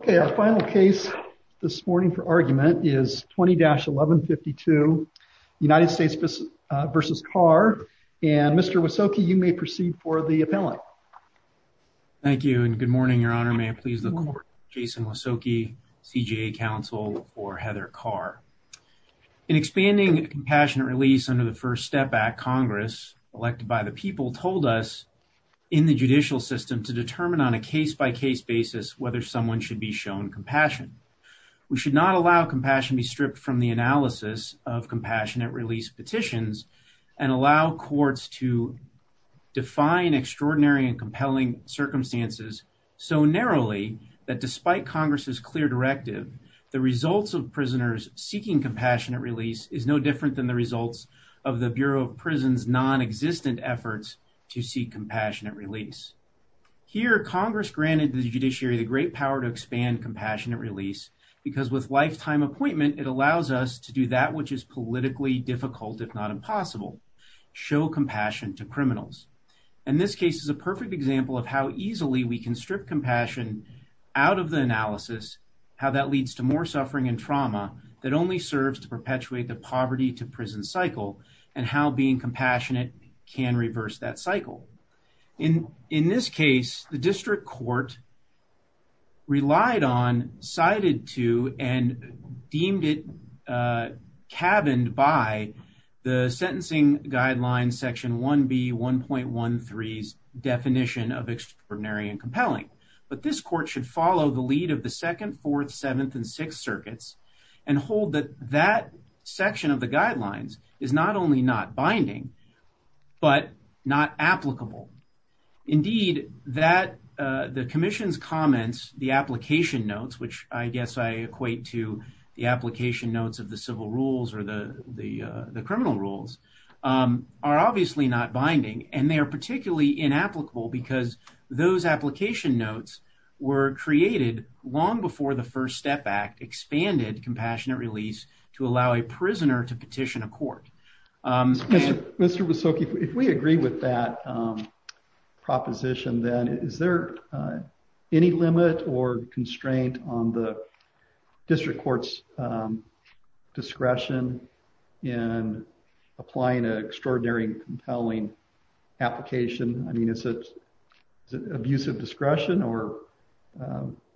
Okay, our final case this morning for argument is 20-1152, United States v. Carr, and Mr. Wysoki, you may proceed for the appellate. Thank you and good morning, Your Honor. May it please the Court, Jason Wysoki, CJA counsel for Heather Carr. In expanding a compassionate release under the First Step Act, Congress, elected by the should be shown compassion. We should not allow compassion be stripped from the analysis of compassionate release petitions and allow courts to define extraordinary and compelling circumstances so narrowly that despite Congress's clear directive, the results of prisoners seeking compassionate release is no different than the results of the Bureau of Prisons' non-existent efforts to seek compassionate release. Here, Congress granted the judiciary the great power to expand compassionate release because with lifetime appointment, it allows us to do that which is politically difficult if not impossible, show compassion to criminals. And this case is a perfect example of how easily we can strip compassion out of the analysis, how that leads to more suffering and trauma that only serves to perpetuate the poverty-to-prison cycle and how being compassionate can reverse that cycle. In this case, the district court relied on, cited to, and deemed it cabined by the Sentencing Guidelines Section 1B, 1.13's definition of extraordinary and compelling. But this court should follow the lead of the Second, Fourth, Seventh, and Sixth Circuits and hold that that section of the guidelines is not only not binding, but not applicable. Indeed, that, the commission's comments, the application notes, which I guess I equate to the application notes of the civil rules or the criminal rules, are obviously not binding and they are particularly inapplicable because those application notes were created long before the First Step Act expanded compassionate release to allow a prisoner to petition a court. Mr. Visoki, if we agree with that proposition, then is there any limit or constraint on the district court's discretion in applying an extraordinary and compelling application? I mean, is it abusive discretion or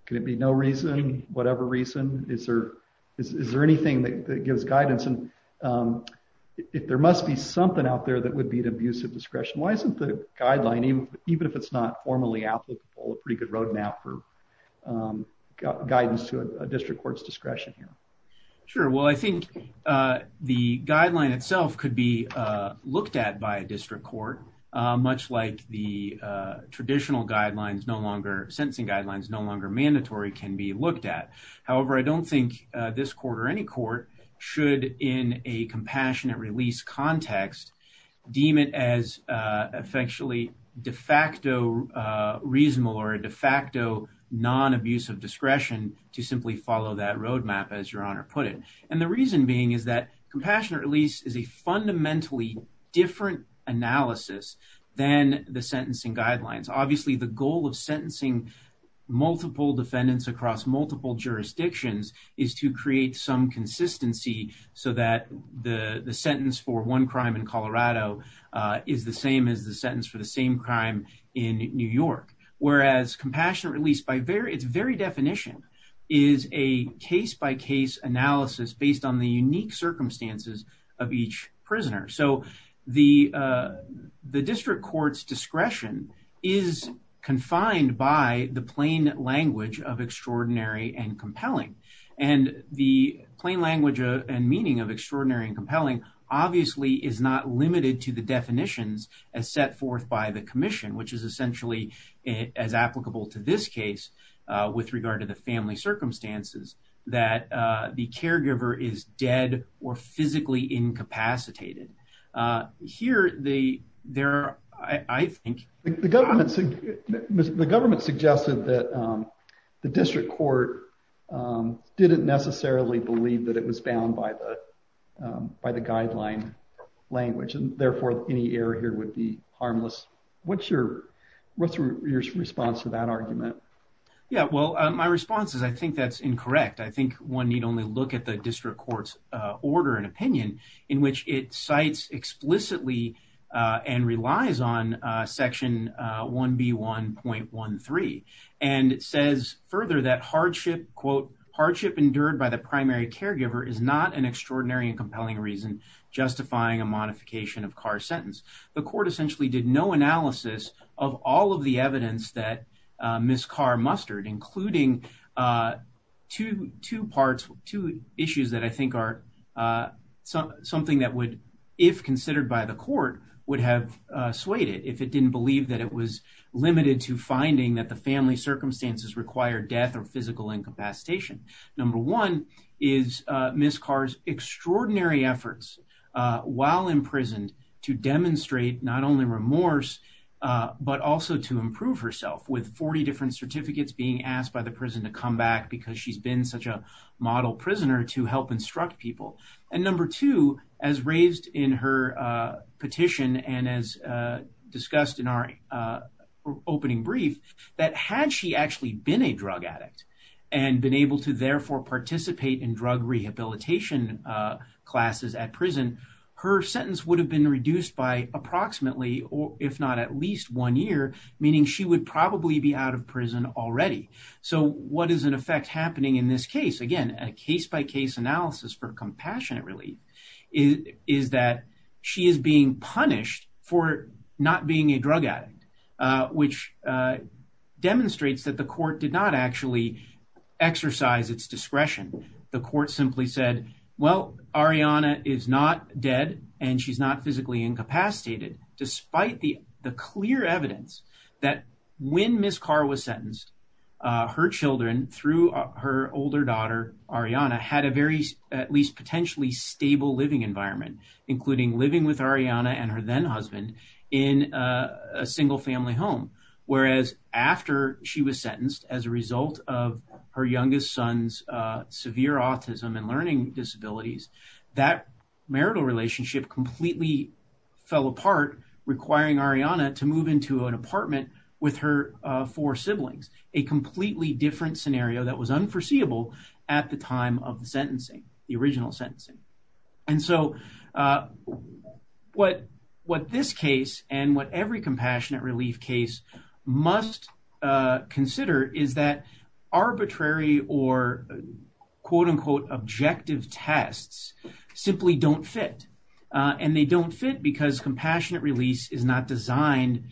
could it be no reason, whatever reason? Is there anything that gives guidance? There must be something out there that would be an abusive discretion. Why isn't the guideline, even if it's not formally applicable, a pretty good road map for guidance to a district court's discretion here? Sure. Well, I think the guideline itself could be looked at by a district court, much like the traditional guidelines, no longer, sentencing guidelines, no longer mandatory can be looked at. However, I don't think this court or any court should, in a compassionate release context, deem it as effectually de facto reasonable or a de facto non-abusive discretion to simply follow that road map, as Your Honor put it. And the reason being is that compassionate release is a fundamentally different analysis than the sentencing guidelines. Obviously, the goal of sentencing multiple defendants across multiple jurisdictions is to create some consistency so that the sentence for one crime in Colorado is the same as the sentence for the same crime in New York. Whereas, compassionate release, by its very definition, is a case-by-case analysis based on the unique circumstances of each prisoner. So the district court's discretion is confined by the plain language of extraordinary and compelling. And the plain language and meaning of extraordinary and compelling, obviously, is not limited to the definitions as set forth by the commission, which is essentially as applicable to this case with regard to the family circumstances, that the caregiver is dead or physically incapacitated. Here, there are, I think... The government suggested that the district court didn't necessarily believe that it was bound by the guideline language, and therefore, any error here would be harmless. What's your response to that argument? Yeah, well, my response is I think that's incorrect. I think one need only look at the district court's order and opinion, in which it cites explicitly and relies on Section 1B1.13. And it says further that, quote, "...hardship endured by the primary caregiver is not an extraordinary and compelling reason justifying a modification of Carr's sentence." The court essentially did no analysis of all of the evidence that Ms. Carr mustered, including two issues that I think are something that would, if considered by the court, would have dissuaded if it didn't believe that it was limited to finding that the family circumstances require death or physical incapacitation. Number one is Ms. Carr's extraordinary efforts while imprisoned to demonstrate not only remorse, but also to improve herself, with 40 different certificates being asked by the prison to come back because she's been such a model prisoner to help instruct people. And number two, as raised in her petition and as discussed in our opening brief, that had she actually been a drug addict and been able to therefore participate in drug rehabilitation classes at prison, her sentence would have been reduced by approximately, if not at least, one year, meaning she would probably be out of prison already. So what is in effect happening in this case? Again, a case-by-case analysis for compassionate relief is that she is being punished for not being a drug addict, which demonstrates that the court did not actually exercise its discretion. The court simply said, well, Ariana is not dead and she's not physically incapacitated, despite the clear evidence that when Ms. Carr was sentenced, her children, through her older daughter, Ariana, had a very, at least potentially, stable living environment, including living with Ariana and her then-husband in a single-family home, whereas after she was sentenced as a result of her youngest son's severe autism and learning disabilities, that marital relationship completely fell apart, requiring Ariana to move into an apartment with her four siblings, a completely different scenario that was unforeseeable at the time of the sentencing, the original sentencing. And so what this case and what every compassionate relief case must consider is that arbitrary or quote-unquote objective tests simply don't fit. And they don't fit because compassionate release is not designed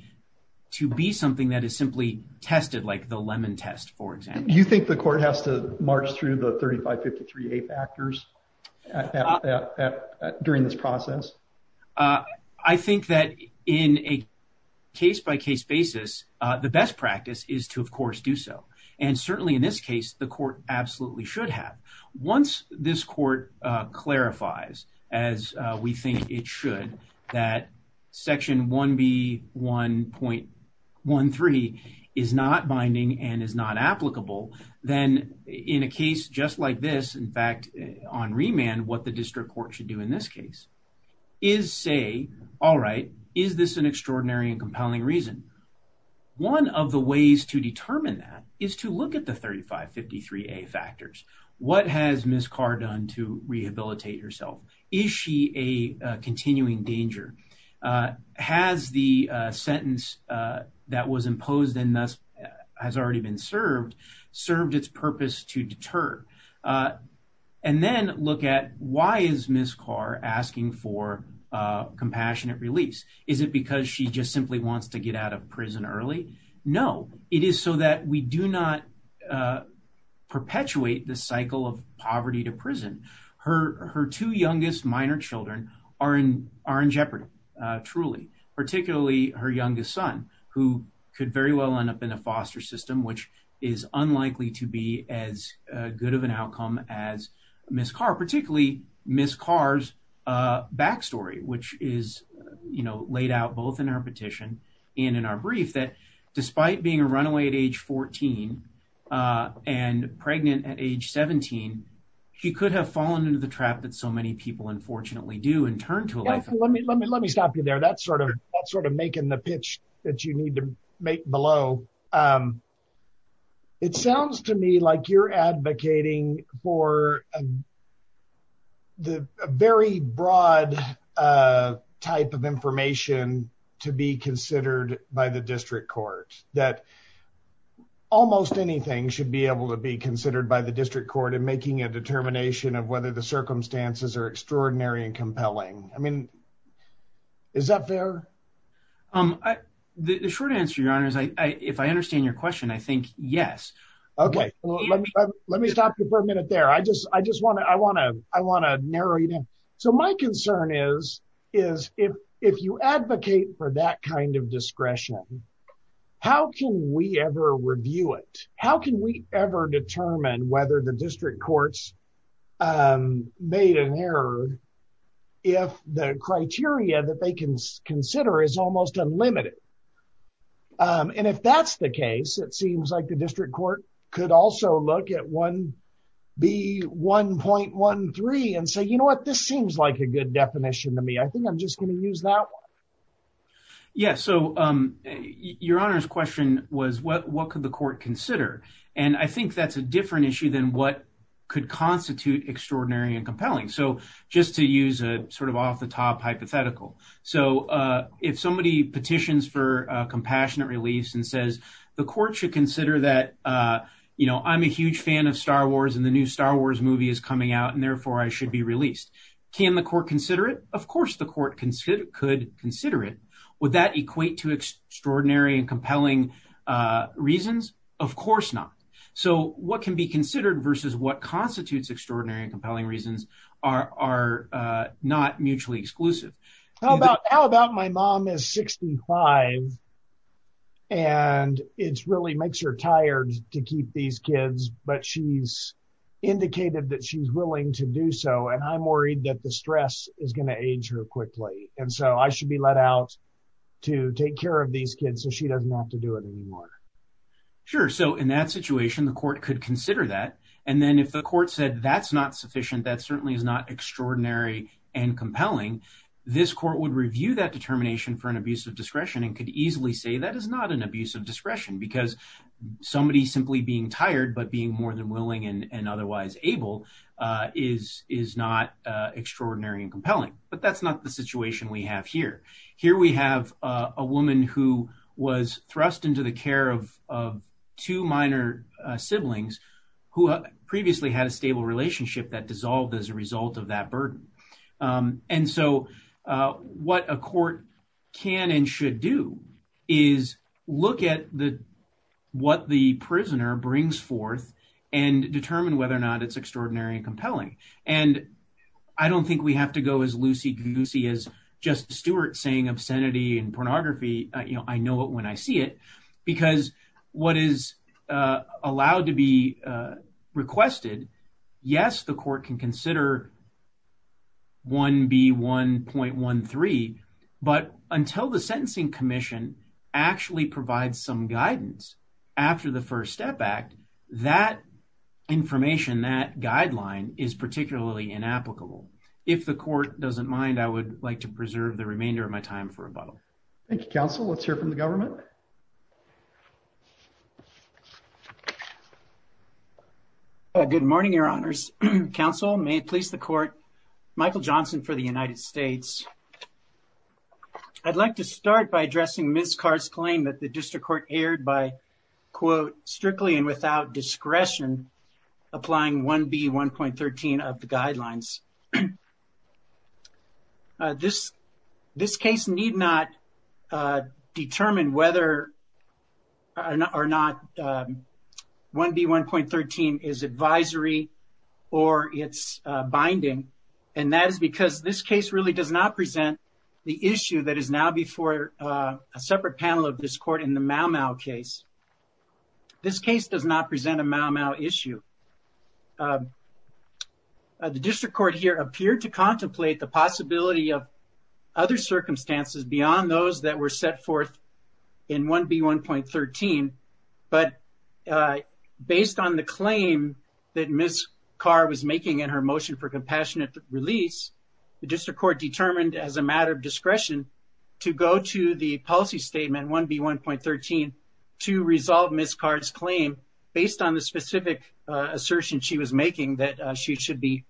to be something that is simply tested like the Lemon test, for example. You think the court has to march through the 3553A factors during this process? I think that in a case-by-case basis, the best practice is to, of course, do so. And certainly in this case, the court absolutely should have. Once this court clarifies, as we think it should, that Section 1B1.13 is not binding and is not applicable, then in a case just like this, in fact, on remand, what the district court should do in this case is say, all right, is this an extraordinary and compelling reason? One of the ways to determine that is to look at the 3553A factors. What has Ms. Carr done to rehabilitate herself? Is she a continuing danger? Has the sentence that was imposed and thus has already been served, served its purpose to deter? And then look at why is Ms. Carr asking for compassionate release? Is it because she just simply wants to get out of prison early? No, it is so that we do not perpetuate the cycle of poverty to prison. Her two youngest minor children are in jeopardy, truly, particularly her youngest son, who could very well end up in a foster system, which is unlikely to be as good of an outcome as Ms. Carr, particularly Ms. Carr's backstory, which is, you know, laid out both in our petition and in our brief, that despite being a runaway at age 14 and pregnant at age 17, she could have fallen into the trap that so many people unfortunately do and turn to a life of poverty. Let me stop you there. That's sort of making the pitch that you need to make below. So it sounds to me like you're advocating for the very broad type of information to be considered by the district court, that almost anything should be able to be considered by the district court in making a determination of whether the circumstances are extraordinary and compelling. I mean, is that fair? The short answer, Your Honor, is if I understand your question, I think yes. Okay. Let me stop you for a minute there. I just want to narrow you down. So my concern is, if you advocate for that kind of discretion, how can we ever review it? How can we ever determine whether the district courts made an error if the criteria that they can consider is almost unlimited? And if that's the case, it seems like the district court could also look at 1B1.13 and say, you know what? This seems like a good definition to me. I think I'm just going to use that one. Yes. So Your Honor's question was, what could the court consider? So just to use a sort of off-the-top hypothetical, so if somebody petitions for a compassionate release and says, the court should consider that, you know, I'm a huge fan of Star Wars and the new Star Wars movie is coming out, and therefore I should be released. Can the court consider it? Of course the court could consider it. Would that equate to extraordinary and compelling reasons? Of course not. So what can be considered versus what constitutes extraordinary and compelling reasons are not mutually exclusive. How about my mom is 65 and it really makes her tired to keep these kids, but she's indicated that she's willing to do so, and I'm worried that the stress is going to age her quickly. And so I should be let out to take care of these kids so she doesn't have to do it anymore. Sure. So in that situation, the court could consider that. And then if the court said that's not sufficient, that certainly is not extraordinary and compelling, this court would review that determination for an abuse of discretion and could easily say that is not an abuse of discretion because somebody simply being tired but being more than willing and otherwise able is not extraordinary and compelling. But that's not the situation we have here. Here we have a woman who was thrust into the care of two minor siblings who previously had a stable relationship that dissolved as a result of that burden. And so what a court can and should do is look at what the prisoner brings forth and determine whether or not it's extraordinary and compelling. And I don't think we have to go as loosey-goosey as Justice Stewart saying obscenity and pornography. I know it when I see it. Because what is allowed to be requested, yes, the court can consider 1B1.13, but until the Sentencing Commission actually provides some guidance after the First Step Act, that information, that guideline is particularly inapplicable. If the court doesn't mind, I would like to preserve the remainder of my time for rebuttal. Thank you, counsel. Let's hear from the government. Good morning, your honors. Counsel, may it please the court, Michael Johnson for the United States. I'd like to start by addressing Ms. Carr's claim that the district court erred by quote 1B1.13 of the guidelines. This case need not determine whether or not 1B1.13 is advisory or it's binding, and that is because this case really does not present the issue that is now before a separate panel of this court in the Mau Mau case. This case does not present a Mau Mau issue. The district court here appeared to contemplate the possibility of other circumstances beyond those that were set forth in 1B1.13, but based on the claim that Ms. Carr was making in her motion for compassionate release, the district court determined as a matter of discretion to go to the policy statement 1B1.13 to resolve Ms. Carr's claim based on the specific assertion she was making that she should be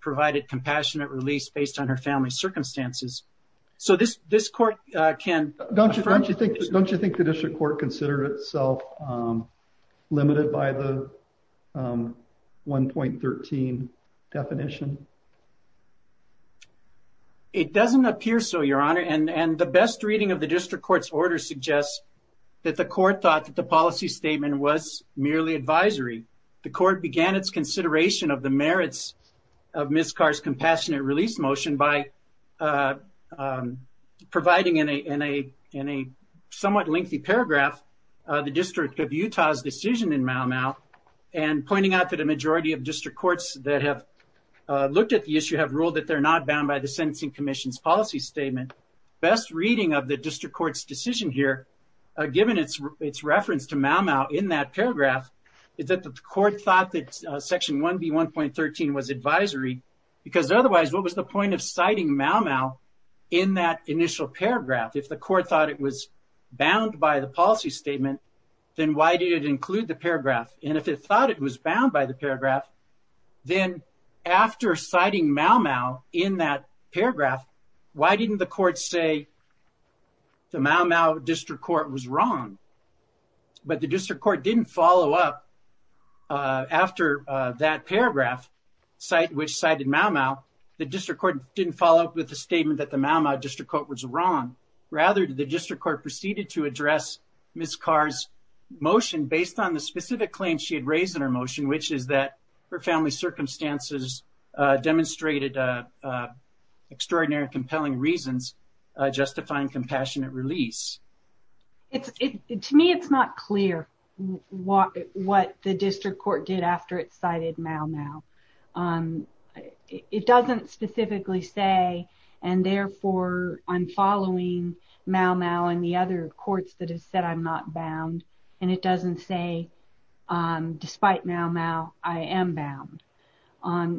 provided compassionate release based on her family's circumstances. So, this court can... Don't you think the district court considered itself limited by the 1.13 definition? It doesn't appear so, Your Honor, and the best reading of the district court's order suggests that the court thought that the policy statement was merely advisory. The court began its consideration of the merits of Ms. Carr's compassionate release motion by providing in a somewhat lengthy paragraph the District of Utah's decision in Mau Mau and pointing out that a majority of district courts that have looked at the issue have ruled that they're not bound by the sentencing commission's policy statement. Best reading of the district court's decision here, given its reference to Mau Mau in that paragraph, is that the court thought that section 1B1.13 was advisory because otherwise what was the point of citing Mau Mau in that initial paragraph? If the court thought it was bound by the policy statement, then why did it include the paragraph? And if it thought it was bound by the paragraph, then after citing Mau Mau in that paragraph, why didn't the court say the Mau Mau district court was wrong? But the district court didn't follow up after that paragraph, which cited Mau Mau, the district court didn't follow up with the statement that the Mau Mau district court was wrong. Rather, the district court proceeded to address Ms. Carr's motion based on the specific claim she had raised in her motion, which is that her family circumstances demonstrated extraordinary compelling reasons justifying compassionate release. To me, it's not clear what the district court did after it cited Mau Mau. It doesn't specifically say, and therefore I'm following Mau Mau and the other courts that have said I'm not bound. And it doesn't say, despite Mau Mau, I am bound.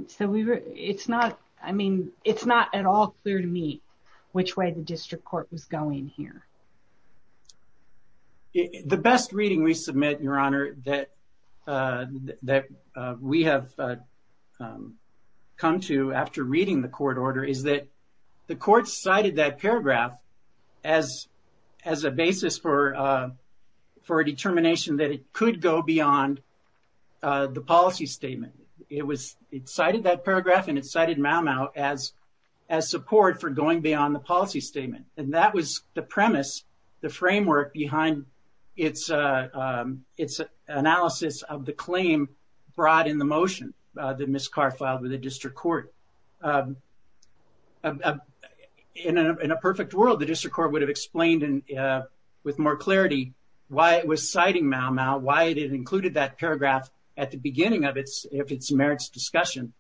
So it's not, I mean, it's not at all clear to me which way the district court was going here. The best reading we submit, Your Honor, that we have come to after reading the court order, is that the court cited that paragraph as a basis for a determination that it could go beyond the policy statement. It cited that paragraph and it cited Mau Mau as support for going beyond the policy statement. And that was the premise, the framework behind its analysis of the claim brought in the motion that Ms. Carr filed with the district court. In a perfect world, the district court would have explained with more clarity why it was citing Mau Mau, why it included that paragraph at the beginning of its merits discussion.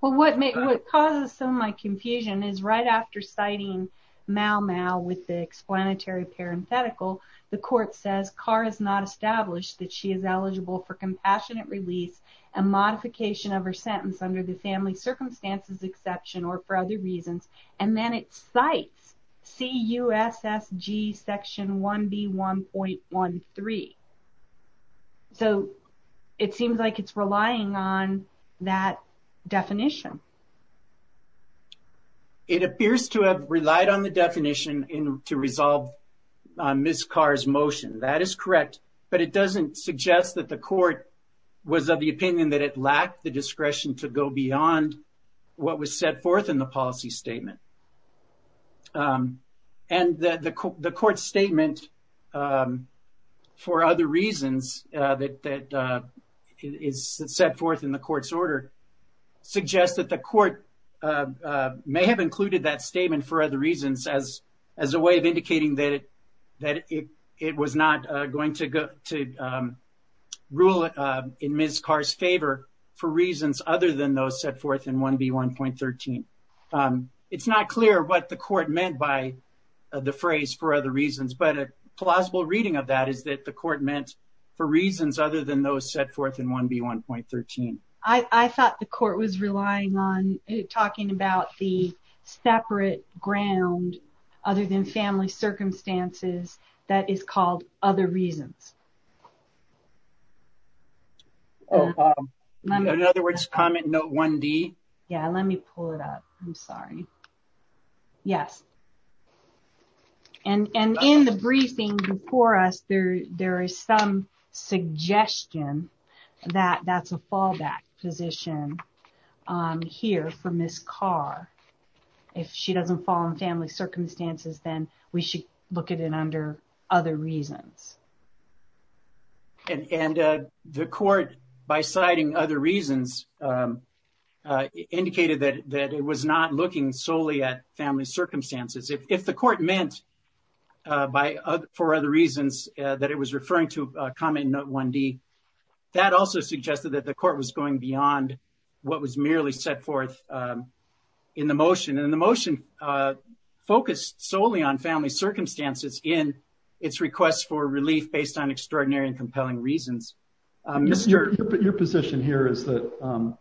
Well, what causes some of my confusion is right after citing Mau Mau with the explanatory parenthetical, the court says Carr has not established that she is eligible for compassionate release and modification of her sentence under the family circumstances exception or for other reasons. And then it cites C-U-S-S-G section 1B1.13. So it seems like it's relying on that definition. It appears to have relied on the definition to resolve Ms. Carr's motion. That is correct. But it doesn't suggest that the court was of the opinion that it lacked the discretion to go beyond what was set forth in the policy statement. And the court statement for other reasons that is set forth in the court's order suggests that the court may have included that statement for other reasons as a way of indicating that it was not going to rule in Ms. Carr's favor for reasons other than those set forth in 1B1.13. It's not clear what the court meant by the phrase for other reasons, but a plausible reading of that is that the court meant for reasons other than those set forth in 1B1.13. I thought the court was relying on talking about the separate ground other than family circumstances that is called other reasons. In other words, comment note 1D. Yeah, let me pull it up. I'm sorry. Yes. And in the briefing before us, there is some suggestion that that's a fallback position here for Ms. Carr. If she doesn't fall in family circumstances, then we should look at it under other reasons. And the court, by citing other reasons, indicated that it was not looking solely at family circumstances. If the court meant for other reasons that it was referring to comment note 1D, that also suggested that the court was going beyond what was merely set forth in the motion. And the motion focused solely on family circumstances in its request for relief based on extraordinary and compelling reasons. Your position here is that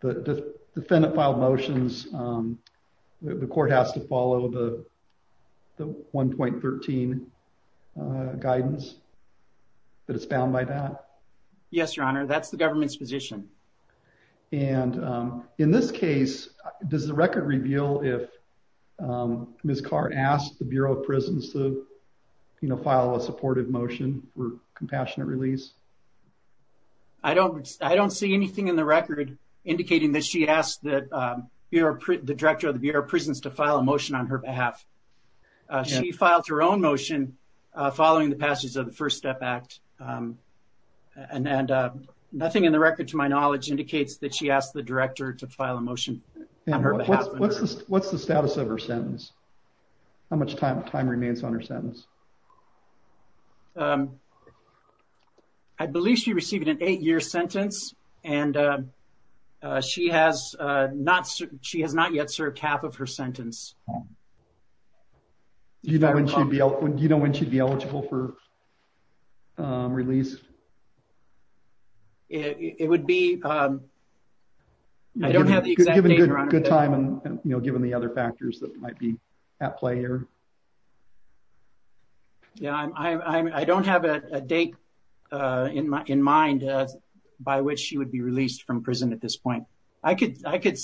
the defendant filed motions, the court has to follow the 1.13 guidance that is bound by that? Yes, Your Honor. That's the government's position. And in this case, does the record reveal if Ms. Carr asked the Bureau of Prisons to file a supportive motion for compassionate release? I don't see anything in the record indicating that she asked the director of the Bureau of Prisons to file a motion on her behalf. She filed her own motion following the passage of the First Step Act. And nothing in the record, to my knowledge, indicates that she asked the director to file a motion on her behalf. What's the status of her sentence? How much time remains on her sentence? I believe she received an eight-year sentence, and she has not yet served half of her sentence. Do you know when she would be eligible for release? I don't have the exact date, Your Honor. Given the other factors that might be at play here? I don't have a date in mind by which she would be released from prison at this point. I could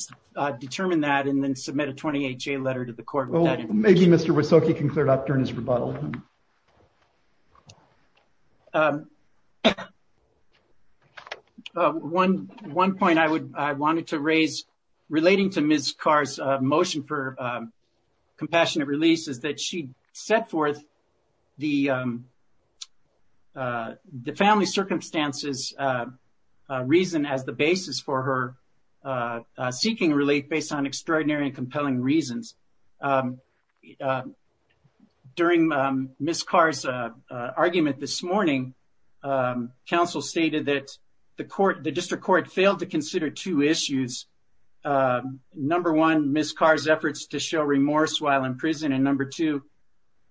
determine that and then submit a 28-J letter to the court with that information. Maybe Mr. Wysocki can clear it up during his rebuttal. One point I wanted to raise relating to Ms. Carr's motion for compassionate release is that she set forth the family circumstances reason as the basis for her seeking relief based on extraordinary and compelling reasons. During Ms. Carr's argument this morning, counsel stated that the district court failed to consider two issues. Number one, Ms. Carr's efforts to show remorse while in prison, and number two,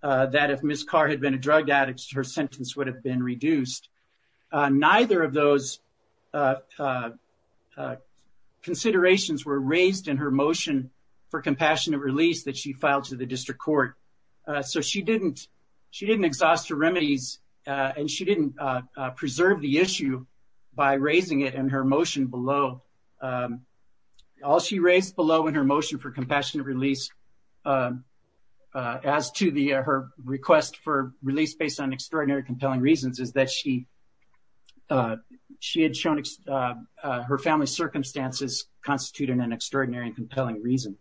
that if Ms. Carr had been a drug addict, her sentence would have been reduced. Neither of those considerations were raised in her motion for compassionate release that she filed to the district court. So she didn't exhaust her remedies, and she didn't preserve the issue by raising it in her motion below. All she raised below in her motion for compassionate release as to her request for release based on extraordinary and compelling reasons is that she had shown her family's circumstances constitute an extraordinary and compelling reason.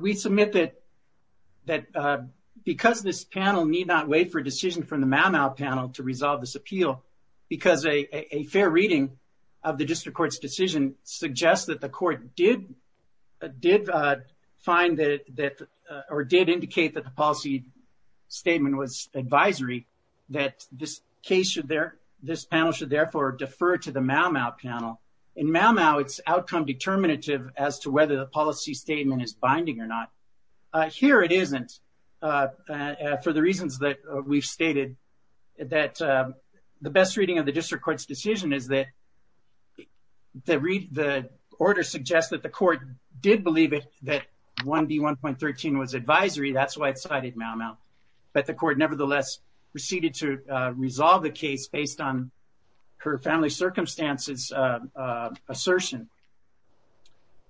We submit that because this panel need not wait for a decision from the Mal-Mal panel to resolve this appeal, because a fair reading of the district court's decision suggests that the court did indicate that the policy statement was advisory, that this panel should therefore defer to the Mal-Mal panel. In Mal-Mal, it's outcome determinative as to whether the policy statement is binding or not. Here it isn't, for the reasons that we've stated, that the best reading of the district court's decision is that the order suggests that the court did believe that 1B1.13 was advisory, that's why it cited Mal-Mal. But the court nevertheless proceeded to resolve the case based on her family's circumstances assertion.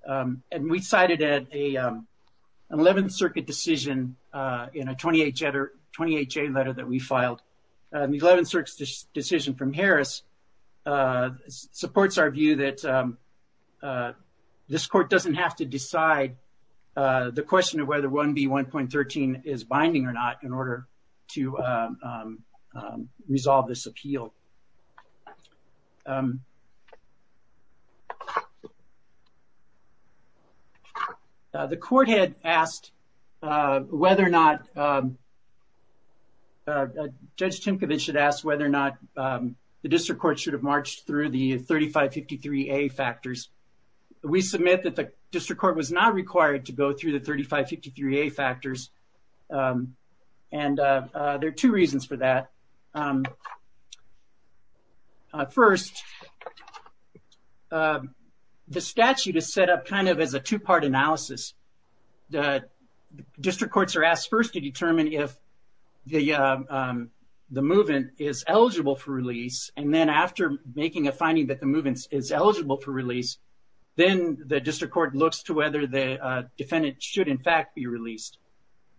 And we cited an 11th Circuit decision in a 20HA letter that we filed. The 11th Circuit decision from Harris supports our view that this court doesn't have to decide the question of whether 1B1.13 is binding or not in order to resolve this appeal. The court had asked whether or not, Judge Timkovich had asked whether or not the district court should have marched through the 3553A factors. We submit that the district court was not required to go through the 3553A factors. And there are two reasons for that. First, the statute is set up kind of as a two-part analysis. The district courts are asked first to determine if the move-in is eligible for release. And then after making a finding that the move-in is eligible for release, then the district court looks to whether the defendant should in fact be released.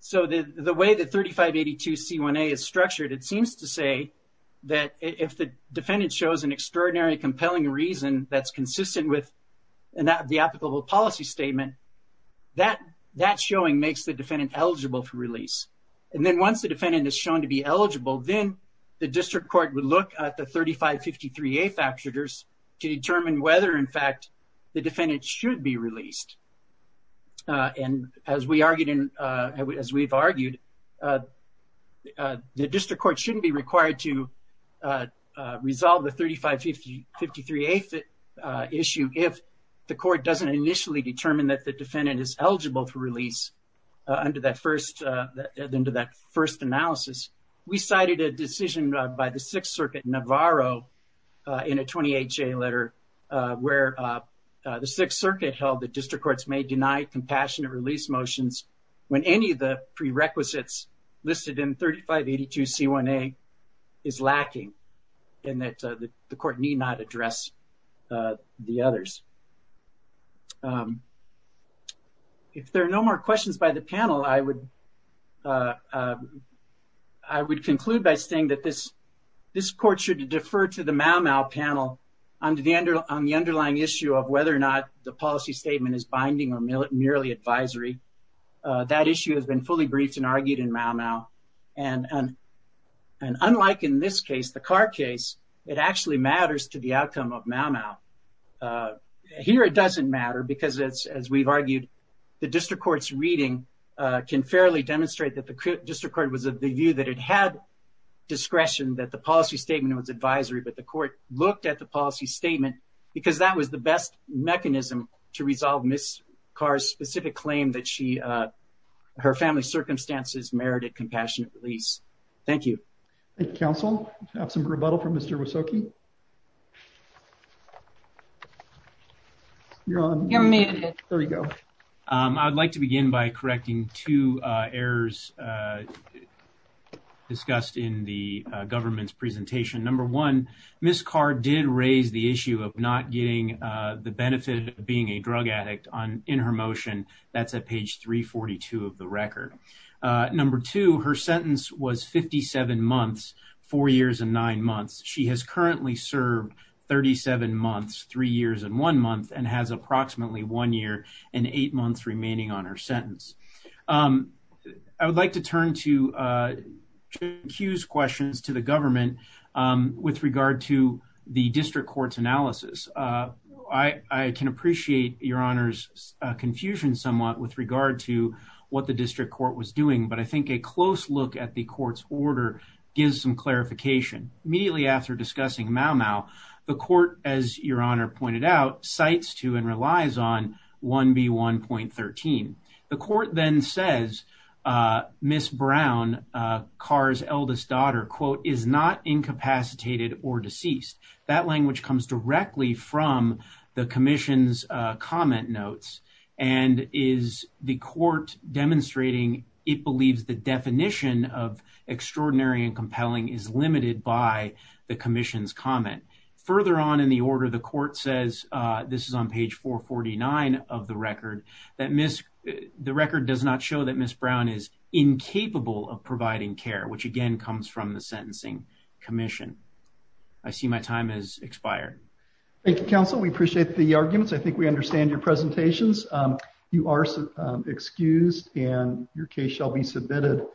So the way that 3582C1A is structured, it seems to say that if the defendant shows an extraordinary compelling reason that's consistent with the applicable policy statement, that showing makes the defendant eligible for release. And then once the defendant is shown to be eligible, then the district court would look at the 3553A factors to determine whether in fact the defendant should be released. And as we've argued, the district court shouldn't be required to resolve the 3553A issue if the court doesn't initially determine that the defendant is eligible for release under that first analysis. We cited a decision by the Sixth Circuit, Navarro, in a 28-J letter where the Sixth Circuit held that district courts may deny compassionate release motions when any of the prerequisites listed in 3582C1A is lacking and that the court need not address the others. If there are no more questions by the panel, I would conclude by saying that this court should defer to the Mau Mau panel on the underlying issue of whether or not the policy statement is binding or merely advisory. That issue has been fully briefed and argued in Mau Mau. And unlike in this case, the Carr case, it actually matters to the outcome of Mau Mau. Here, it doesn't matter because, as we've argued, the district court's reading can fairly demonstrate that the district court was of the view that it had discretion that the policy statement was advisory, but the court looked at the policy statement because that was the best mechanism to resolve Ms. Carr's specific claim that her family's circumstances merited compassionate release. Thank you. Thank you, counsel. I have some rebuttal from Mr. Wysoki. You're on. You're muted. There you go. I'd like to begin by correcting two errors discussed in the government's presentation. Number one, Ms. Carr did raise the issue of not getting the benefit of being a drug addict in her motion. That's at page 342 of the record. Number two, her sentence was 57 months, four years and nine months. She has currently served 37 months, three years and one month, and has approximately one year and eight months remaining on her sentence. I would like to turn to Jim Hughes' questions to the government with regard to the district court's analysis. I can appreciate Your Honor's confusion somewhat with regard to what the district court was doing, but I think a close look at the court's order gives some clarification. Immediately after discussing Mau Mau, the court, as Your Honor pointed out, cites to and relies on 1B1.13. The court then says Ms. Brown, Carr's eldest daughter, quote, is not incapacitated or deceased. That language comes directly from the commission's comment notes, and is the court demonstrating it believes the definition of extraordinary and compelling is limited by the commission's comment. Further on in the order, the court says, this is on page 449 of the record, that Ms. The record does not show that Ms. Brown is incapable of providing care, which again comes from the sentencing commission. I see my time has expired. Thank you, counsel. We appreciate the arguments. I think we understand your presentations. You are excused and your case shall be submitted.